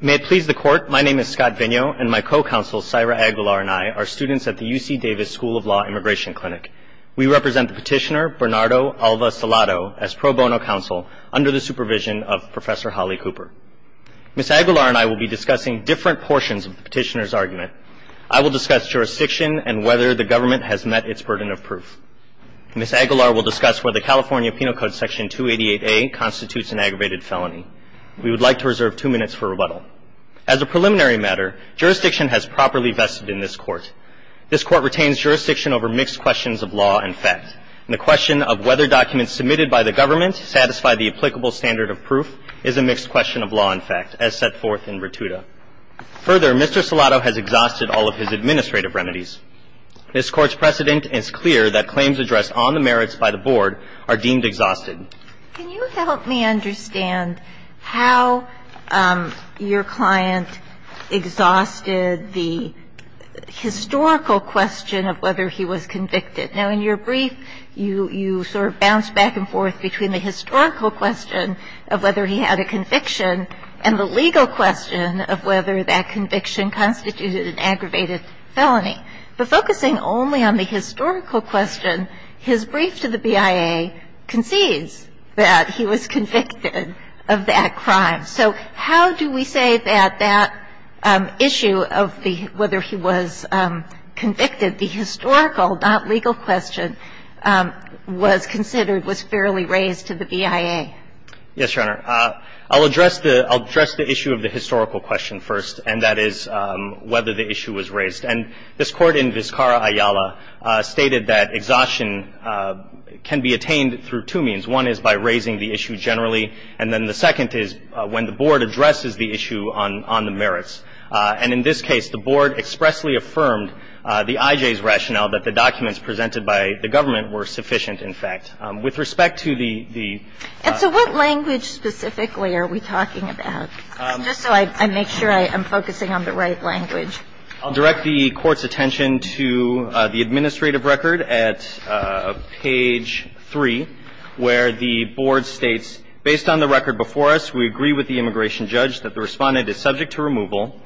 May it please the Court, my name is Scott Vigneault and my co-counsel, Saira Aguilar and I, are students at the UC Davis School of Law Immigration Clinic. We represent the petitioner, Bernardo Alva Salado, as pro bono counsel under the supervision of Professor Holly Cooper. Ms. Aguilar and I will be discussing different portions of the petitioner's argument. I will discuss jurisdiction and whether the government has met its burden of proof. Ms. Aguilar will discuss whether California Penal Code Section 288A constitutes an aggravated felony. We would like to reserve two minutes for rebuttal. As a preliminary matter, jurisdiction has properly vested in this Court. This Court retains jurisdiction over mixed questions of law and fact, and the question of whether documents submitted by the government satisfy the applicable standard of proof is a mixed question of law and fact, as set forth in Vertuta. Further, Mr. Salado has exhausted all of his administrative remedies. This Court's precedent is clear that claims addressed on the merits by the Board are deemed exhausted. Can you help me understand how your client exhausted the historical question of whether he was convicted? Now, in your brief, you sort of bounced back and forth between the historical question of whether he had a conviction and the legal question of whether that conviction constituted an aggravated felony. But focusing only on the historical question, his brief to the BIA concedes that he was convicted of that crime. So how do we say that that issue of whether he was convicted, the historical, not legal question, was considered, was fairly raised to the BIA? Yes, Your Honor. I'll address the issue of the historical question first, and that is whether the issue was raised. And this Court in Vizcarra-Ayala stated that exhaustion can be attained through two means. One is by raising the issue generally, and then the second is when the Board addresses the issue on the merits. And in this case, the Board expressly affirmed the IJ's rationale that the documents presented by the government were sufficient, in fact. With respect to the ---- And so what language specifically are we talking about? Just so I make sure I am focusing on the right language. I'll direct the Court's attention to the administrative record at page 3, where the Board states, based on the record before us, we agree with the immigration judge that the Respondent is subject to removal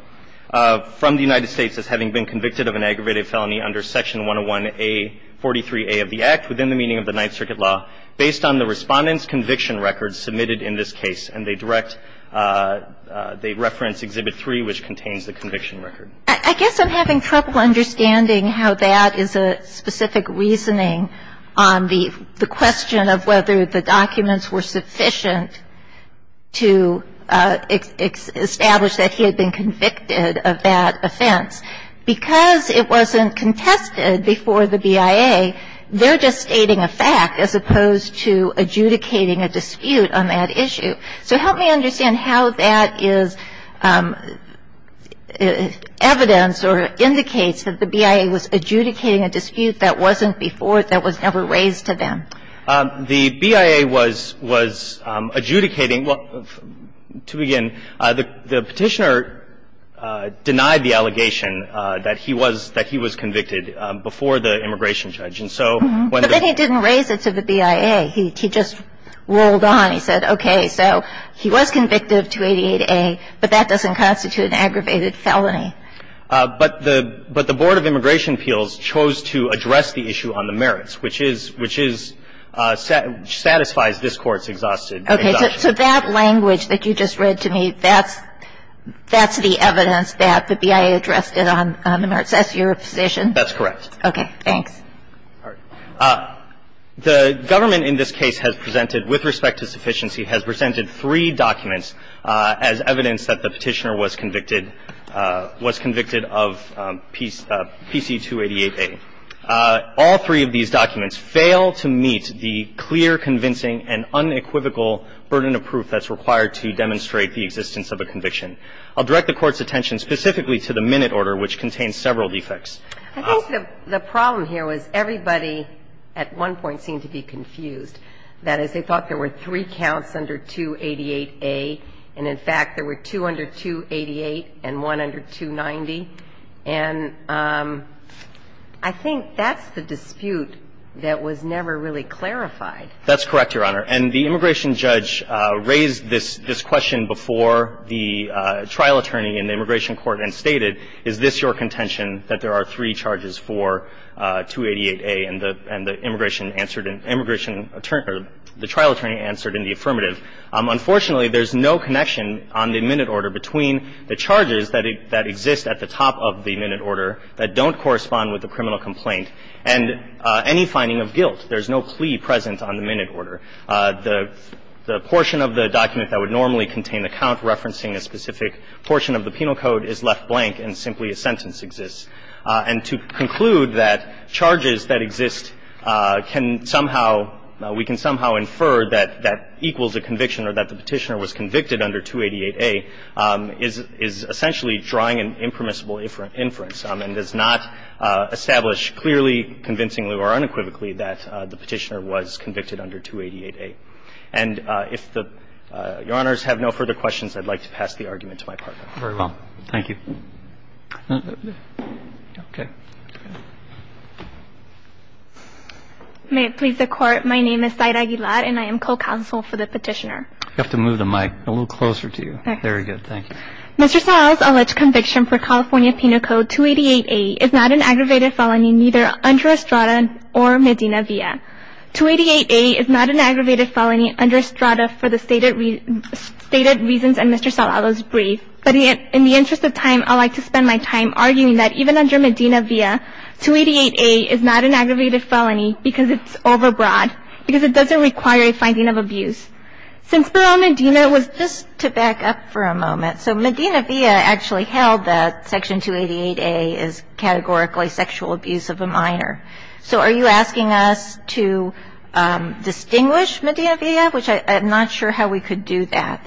from the United States as having been convicted of an aggravated felony under Section 101A, 43A of the Act within the meaning of the Ninth Circuit law, based on the Respondent's conviction record submitted in this case. And they direct the reference, Exhibit 3, which contains the conviction record. I guess I'm having trouble understanding how that is a specific reasoning on the question of whether the documents were sufficient to establish that he had been convicted of that offense. Because it wasn't contested before the BIA, they're just stating a fact as opposed to adjudicating a dispute on that issue. So help me understand how that is evidence or indicates that the BIA was adjudicating a dispute that wasn't before, that was never raised to them. The BIA was adjudicating. Well, to begin, the Petitioner denied the allegation that he was convicted before the immigration judge. And so when the ---- But then he didn't raise it to the BIA. He just rolled on. He said, okay, so he was convicted of 288A, but that doesn't constitute an aggravated felony. But the Board of Immigration Appeals chose to address the issue on the merits, which is, which is, satisfies this Court's exhaustion. Okay. So that language that you just read to me, that's the evidence that the BIA addressed it on the merits? That's your position? That's correct. Okay. Thanks. All right. The government in this case has presented, with respect to sufficiency, has presented three documents as evidence that the Petitioner was convicted of PC-288A. All three of these documents fail to meet the clear, convincing, and unequivocal burden of proof that's required to demonstrate the existence of a conviction. I'll direct the Court's attention specifically to the minute order, which contains several defects. I think the problem here was everybody at one point seemed to be confused. That is, they thought there were three counts under 288A, and in fact, there were two under 288 and one under 290. And I think that's the dispute that was never really clarified. That's correct, Your Honor. And the immigration judge raised this question before the trial attorney in the immigration court and stated, is this your contention, that there are three charges for 288A? And the immigration answered in the immigration attorney or the trial attorney answered in the affirmative. Unfortunately, there's no connection on the minute order between the charges that exist at the top of the minute order that don't correspond with the criminal complaint and any finding of guilt. There's no plea present on the minute order. The portion of the document that would normally contain the count referencing a specific portion of the penal code is left blank and simply a sentence exists. And to conclude that charges that exist can somehow we can somehow infer that that equals a conviction or that the Petitioner was convicted under 288A is essentially drawing an impermissible inference and does not establish clearly, convincingly or unequivocally that the Petitioner was convicted under 288A. And if Your Honors have no further questions, I'd like to pass the argument to my partner. Very well. Thank you. Okay. May it please the Court. My name is Syed Aguilar and I am co-counsel for the Petitioner. You have to move the mic a little closer to you. Okay. Thank you. Mr. Salado's alleged conviction for California Penal Code 288A is not an aggravated felony neither under Estrada or Medina Via. 288A is not an aggravated felony under Estrada for the stated reasons in Mr. Salado's brief. But in the interest of time, I'd like to spend my time arguing that even under Medina Via, 288A is not an aggravated felony because it's overbroad, because it doesn't require a finding of abuse. Since Barone Medina was just to back up for a moment, so Medina Via actually held that Section 288A is categorically sexual abuse of a minor. So are you asking us to distinguish Medina Via, which I'm not sure how we could do that?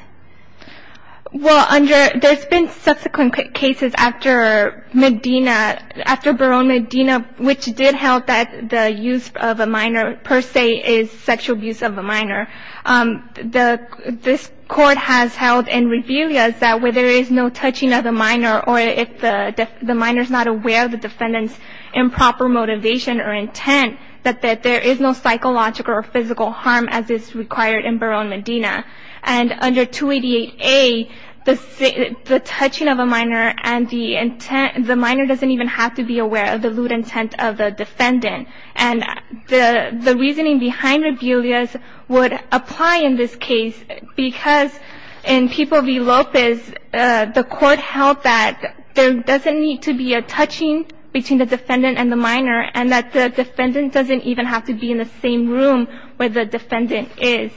Well, under – there's been subsequent cases after Medina – after Barone Medina, which did held that the use of a minor per se is sexual abuse of a minor. The – this court has held in Rebillias that where there is no touching of a minor or if the minor's not aware of the defendant's improper motivation or intent, that there is no psychological or physical harm as is required in Barone Medina. And under 288A, the touching of a minor and the intent – the minor doesn't even have to be aware of the lewd intent of the defendant. And the reasoning behind Rebillias would apply in this case because in People v. Lopez, the court held that there doesn't need to be a touching between the defendant and the minor and that the defendant doesn't even have to be in the same room where the defendant is.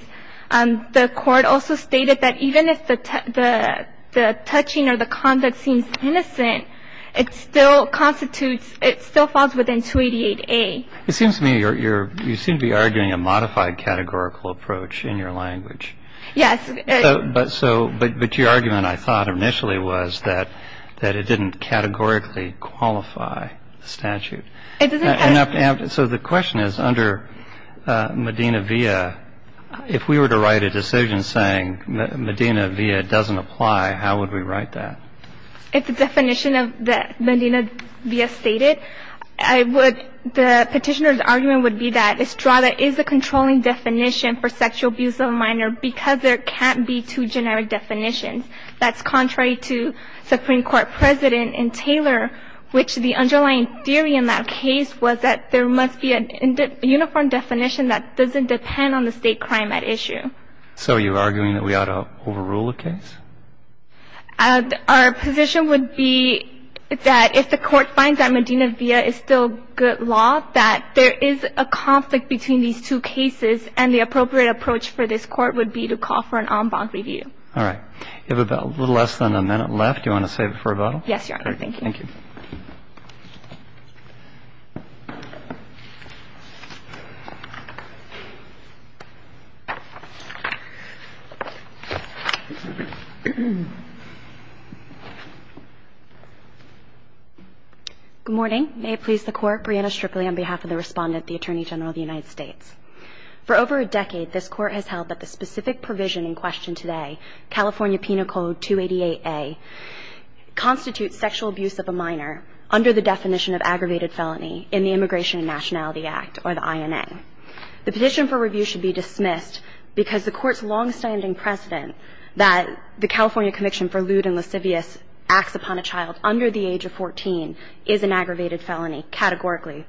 The court also stated that even if the touching or the conduct seems innocent, it still constitutes – it still falls within 288A. It seems to me you're – you seem to be arguing a modified categorical approach in your language. Yes. But so – but your argument, I thought, initially was that it didn't categorically qualify the statute. It doesn't – And so the question is under Medina via, if we were to write a decision saying Medina via doesn't apply, how would we write that? If the definition of Medina via stated, I would – the petitioner's argument would be that Estrada is a controlling definition for sexual abuse of a minor because there can't be two generic definitions. That's contrary to Supreme Court President and Taylor, which the underlying theory in that case was that there must be a uniform definition that doesn't depend on the state crime at issue. So you're arguing that we ought to overrule the case? Our position would be that if the Court finds that Medina via is still good law, that there is a conflict between these two cases, and the appropriate approach for this Court would be to call for an en banc review. All right. You have about a little less than a minute left. Do you want to save it for a bottle? Yes, Your Honor. Thank you. Thank you. Good morning. May it please the Court. Brianna Strickley on behalf of the Respondent, the Attorney General of the United States. For over a decade, this Court has held that the specific provision in question today, California Penal Code 288A, constitutes sexual abuse of a minor under the definition of aggravated felony in the Immigration and Nationality Act, or the INA. The petition for review should be dismissed because the Court's longstanding precedent that the California conviction for lewd and lascivious acts upon a child under the age of 14 is an aggravated felony, categorically.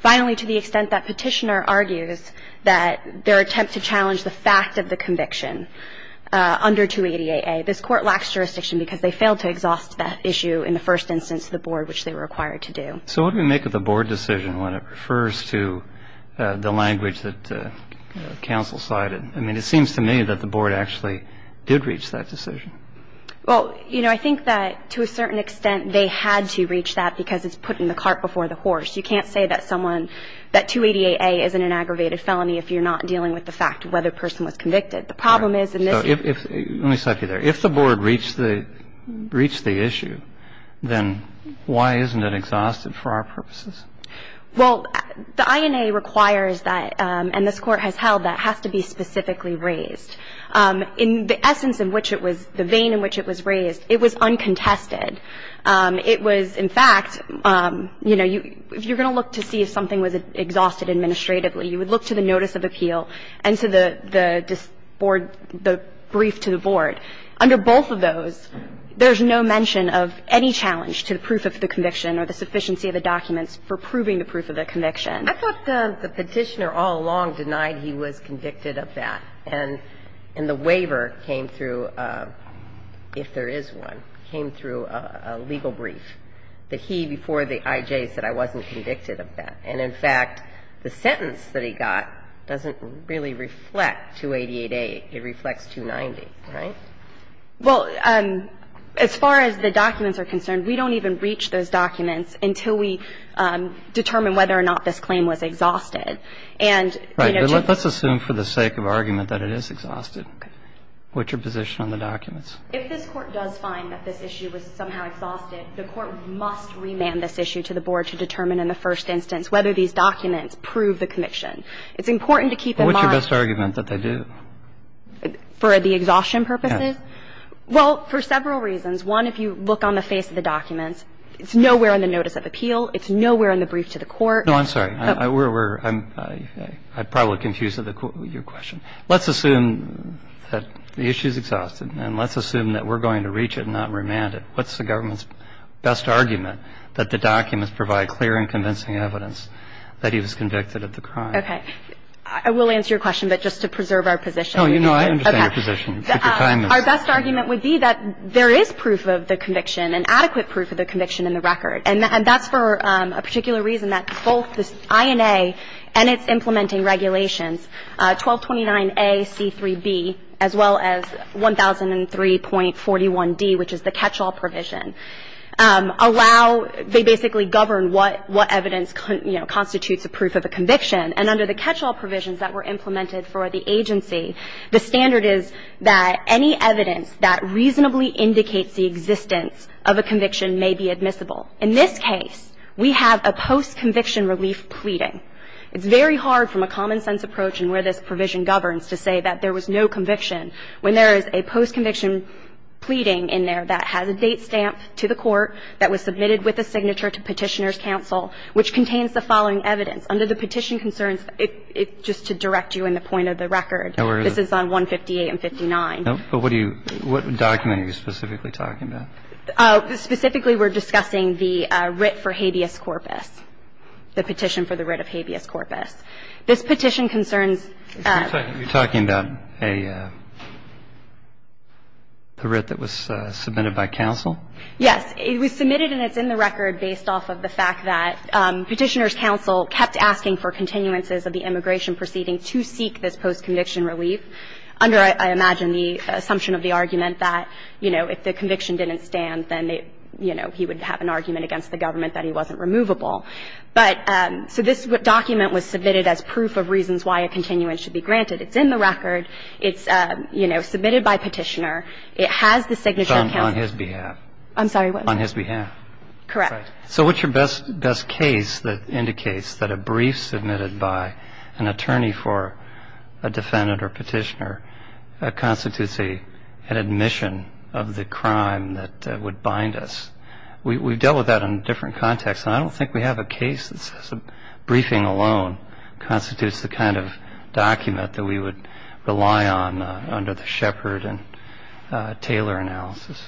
Finally, to the extent that petitioner argues that their attempt to challenge the fact of the conviction under 288A, this Court lacks jurisdiction because they failed to exhaust that issue in the first instance to the Board, which they were required to do. So what do we make of the Board decision when it refers to the language that counsel cited? I mean, it seems to me that the Board actually did reach that decision. Well, you know, I think that to a certain extent they had to reach that because it's put in the cart before the horse. You can't say that someone, that 288A isn't an aggravated felony if you're not dealing with the fact of whether a person was convicted. The problem is in this case. Let me stop you there. If the Board reached the issue, then why isn't it exhausted for our purposes? Well, the INA requires that, and this Court has held that, has to be specifically raised. In the essence in which it was, the vein in which it was raised, it was uncontested. It was, in fact, you know, if you're going to look to see if something was exhausted administratively, you would look to the notice of appeal and to the Board, the brief to the Board. Under both of those, there's no mention of any challenge to the proof of the conviction or the sufficiency of the documents for proving the proof of the conviction. I thought the Petitioner all along denied he was convicted of that. And the waiver came through, if there is one, came through a legal brief that he, before the IJ, said I wasn't convicted of that. And, in fact, the sentence that he got doesn't really reflect 288A. It reflects 290, right? Well, as far as the documents are concerned, we don't even reach those documents until we determine whether or not this claim was exhausted. And, you know, to the Board. Right. But let's assume for the sake of argument that it is exhausted. Okay. What's your position on the documents? If this Court does find that this issue was somehow exhausted, the Court must remand this issue to the Board to determine in the first instance whether these documents prove the conviction. It's important to keep in mind. What's your best argument that they do? For the exhaustion purposes? Well, for several reasons. One, if you look on the face of the documents, it's nowhere in the notice of appeal. It's nowhere in the brief to the Court. No, I'm sorry. We're – I probably confused your question. Let's assume that the issue is exhausted, and let's assume that we're going to reach it and not remand it. What's the government's best argument that the documents provide clear and convincing evidence that he was convicted of the crime? Okay. I will answer your question, but just to preserve our position. No, you know, I understand your position. Our best argument would be that there is proof of the conviction, and adequate proof of the conviction in the record. And that's for a particular reason that both the INA and its implementing regulations, 1229A, C3b, as well as 1003.41d, which is the catch-all provision, allow – they basically govern what evidence, you know, constitutes a proof of a conviction. And under the catch-all provisions that were implemented for the agency, the standard is that any evidence that reasonably indicates the existence of a conviction may be admissible. In this case, we have a post-conviction relief pleading. It's very hard from a common-sense approach and where this provision governs to say that there was no conviction when there is a post-conviction pleading in there that has a date stamp to the court, that was submitted with a signature to Petitioner's Counsel, which contains the following evidence. Under the petition concerns, it – just to direct you in the point of the record, this is on 158 and 59. But what do you – what document are you specifically talking about? Specifically, we're discussing the writ for habeas corpus, the petition for the writ of habeas corpus. This petition concerns – You're talking about a writ that was submitted by counsel? Yes. It was submitted and it's in the record based off of the fact that Petitioner's Counsel kept asking for continuances of the immigration proceeding to seek this post-conviction relief under, I imagine, the assumption of the argument that, you know, if the conviction didn't stand, then, you know, he would have an argument against the government that he wasn't removable. But – so this document was submitted as proof of reasons why a continuance should be granted. It's in the record. It's, you know, submitted by Petitioner. It has the signature of counsel. So on his behalf. I'm sorry, what? On his behalf. Correct. So what's your best case that indicates that a brief submitted by an attorney for a defendant or petitioner constitutes an admission of the crime that would bind us? We've dealt with that in different contexts, and I don't think we have a case that says a briefing alone constitutes the kind of document that we would rely on under the Shepard and Taylor analysis.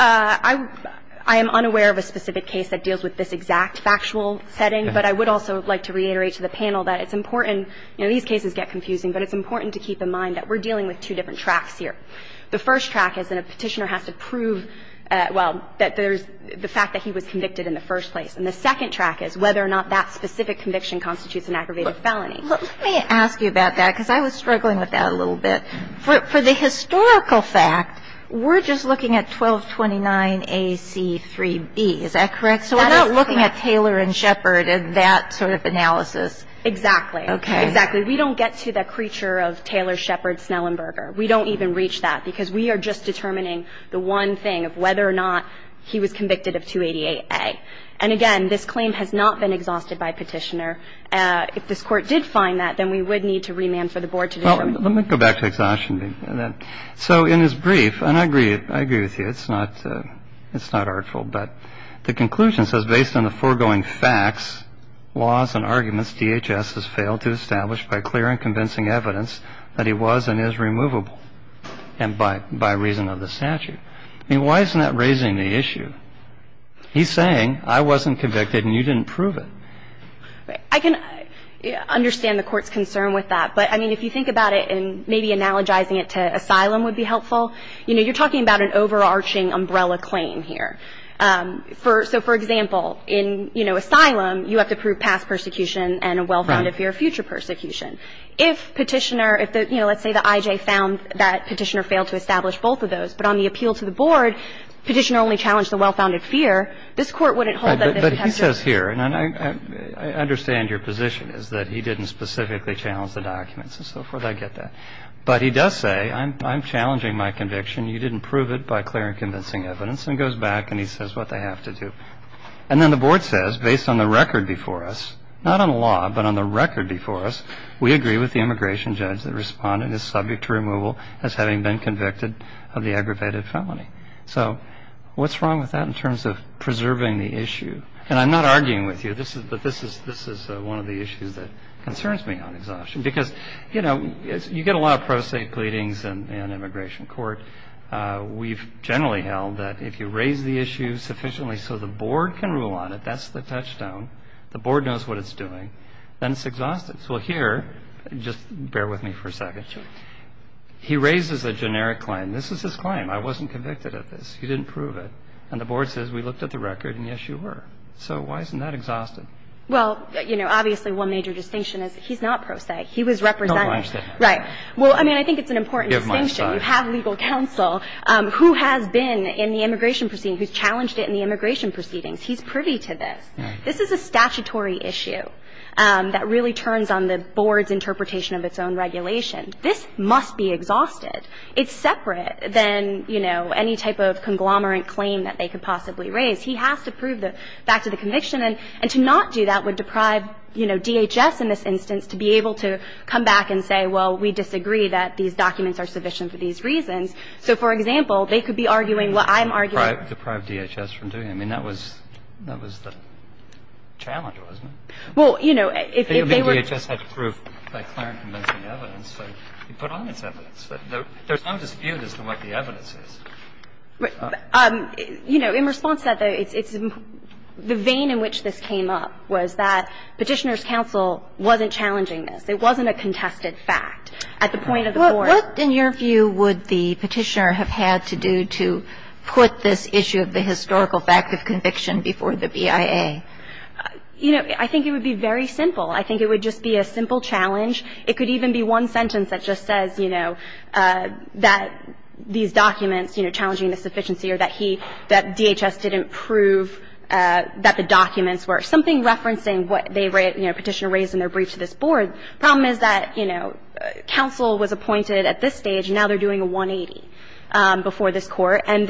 I am unaware of a specific case that deals with this exact factual setting, but I would also like to reiterate to the panel that it's important, you know, these cases get confusing, but it's important to keep in mind that we're dealing with two different tracks here. The first track is that a petitioner has to prove, well, that there's the fact that he was convicted in the first place. And the second track is whether or not that specific conviction constitutes an aggravated felony. Let me ask you about that, because I was struggling with that a little bit. For the historical fact, we're just looking at 1229AC3B. Is that correct? So we're not looking at Taylor and Shepard in that sort of analysis. Exactly. Exactly. We don't get to the creature of Taylor, Shepard, Snellenberger. We don't even reach that, because we are just determining the one thing of whether or not he was convicted of 288A. And again, this claim has not been exhausted by petitioner. If this Court did find that, then we would need to remand for the board to determine it. Well, let me go back to exhaustion. So in his brief, and I agree with you, it's not artful. But the conclusion says, based on the foregoing facts, laws, and arguments, DHS has failed to establish by clear and convincing evidence that he was and is removable and by reason of the statute. I mean, why isn't that raising the issue? He's saying I wasn't convicted and you didn't prove it. I can understand the Court's concern with that. But, I mean, if you think about it and maybe analogizing it to asylum would be helpful. You know, you're talking about an overarching umbrella claim here. So, for example, in, you know, asylum, you have to prove past persecution and a well-founded fear of future persecution. If petitioner, if, you know, let's say the IJ found that petitioner failed to establish both of those, but on the appeal to the board, petitioner only challenged the well-founded fear, this Court wouldn't hold that there's a potential. But he says here, and I understand your position, is that he didn't specifically challenge the documents and so forth. I get that. But he does say I'm challenging my conviction. You didn't prove it by clear and convincing evidence and goes back and he says what they have to do. And then the board says based on the record before us, not on the law, but on the record before us, we agree with the immigration judge that responded as subject to removal as having been convicted of the aggravated felony. So what's wrong with that in terms of preserving the issue? And I'm not arguing with you. This is one of the issues that concerns me on exhaustion. Because, you know, you get a lot of pro se pleadings in immigration court. We've generally held that if you raise the issue sufficiently so the board can rule on it, that's the touchstone, the board knows what it's doing, then it's exhaustive. So here, just bear with me for a second, he raises a generic claim. This is his claim. I wasn't convicted of this. He didn't prove it. And the board says we looked at the record and, yes, you were. So why isn't that exhaustive? Well, you know, obviously one major distinction is he's not pro se. He was represented. No, I understand. Right. Well, I mean, I think it's an important distinction. You have legal counsel who has been in the immigration proceeding, who's challenged it in the immigration proceedings. He's privy to this. Right. This is a statutory issue that really turns on the board's interpretation of its own regulation. This must be exhausted. It's separate than, you know, any type of conglomerate claim that they could possibly raise. He has to prove the fact of the conviction. And to not do that would deprive, you know, DHS in this instance to be able to come back and say, well, we disagree that these documents are sufficient for these reasons. So, for example, they could be arguing what I'm arguing. Deprive DHS from doing it. I mean, that was the challenge, wasn't it? Well, you know, if they were to just have proof by clear and convincing evidence. So he put on his evidence. There's no dispute as to what the evidence is. But, you know, in response to that, though, it's the vein in which this came up was that Petitioner's counsel wasn't challenging this. It wasn't a contested fact at the point of the board. What, in your view, would the Petitioner have had to do to put this issue of the historical fact of conviction before the BIA? You know, I think it would be very simple. I think it would just be a simple challenge. It could even be one sentence that just says, you know, that these documents, you know, challenging the sufficiency or that he — that DHS didn't prove that the documents were — something referencing what they — you know, Petitioner raised in their brief to this board. The problem is that, you know, counsel was appointed at this stage, and now they're doing a 180 before this Court. And,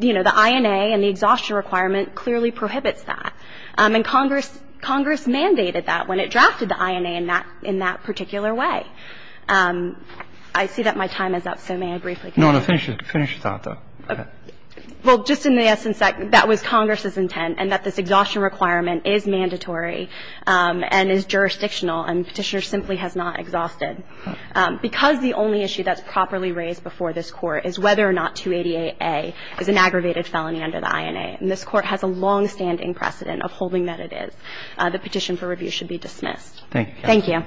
you know, the INA and the exhaustion requirement clearly prohibits that. And Congress — Congress mandated that when it drafted the INA in that — in that particular way. I see that my time is up, so may I briefly — No, no. Finish your thought, though. Go ahead. Well, just in the essence, that was Congress's intent, and that this exhaustion requirement is mandatory and is jurisdictional, and Petitioner simply has not exhausted. Because the only issue that's properly raised before this Court is whether or not 288A is an aggravated felony under the INA. And this Court has a longstanding precedent of holding that it is. The petition for review should be dismissed. Thank you. Thank you.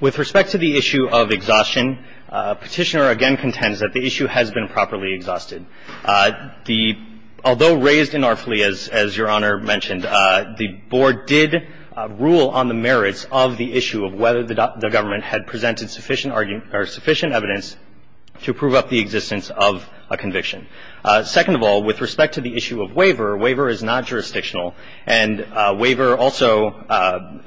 With respect to the issue of exhaustion, Petitioner again contends that the issue has been properly exhausted. The — although raised inarfully, as Your Honor mentioned, the board did rule on the sufficient evidence to prove up the existence of a conviction. Second of all, with respect to the issue of waiver, waiver is not jurisdictional. And waiver also,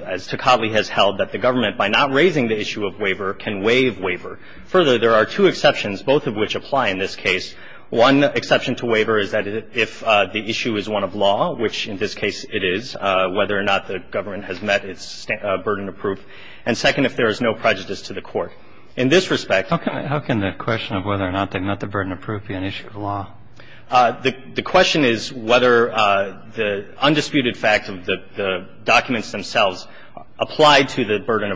as Tocatli has held, that the government, by not raising the issue of waiver, can waive waiver. Further, there are two exceptions, both of which apply in this case. One exception to waiver is that if the issue is one of law, which in this case it is, whether or not the government has met its burden of proof. And second, if there is no prejudice to the Court. In this respect — How can the question of whether or not they met the burden of proof be an issue of law? The question is whether the undisputed fact of the documents themselves apply to the burden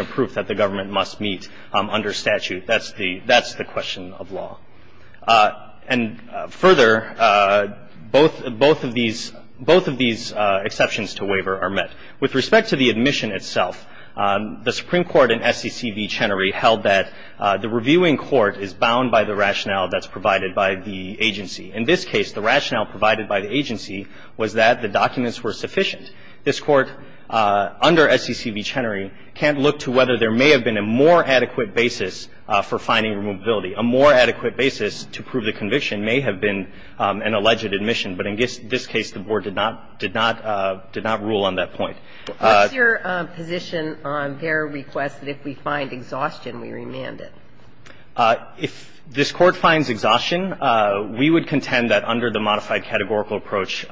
of proof that the government must meet under statute. That's the question of law. And further, both of these exceptions to waiver are met. With respect to the admission itself, the Supreme Court in S.E.C. v. Chenery held that the reviewing court is bound by the rationale that's provided by the agency. In this case, the rationale provided by the agency was that the documents were sufficient. This Court, under S.E.C. v. Chenery, can't look to whether there may have been a more adequate basis for finding removability. A more adequate basis to prove the conviction may have been an alleged admission, but in this case, the Board did not rule on that point. What's your position on their request that if we find exhaustion, we remand it? If this Court finds exhaustion, we would contend that under the modified categorical approach,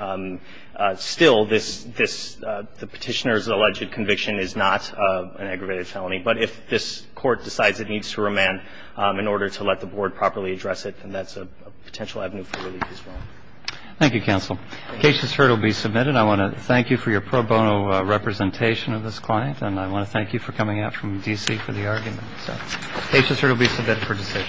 still this — the Petitioner's alleged conviction is not an aggravated felony, but if this Court decides it needs to remand in order to let the Board properly address it, then that's a potential avenue for relief as well. Thank you, counsel. The case has heard will be submitted. I want to thank you for your pro bono representation of this client, and I want to thank you for coming out from D.C. for the argument. The case has heard will be submitted for decision.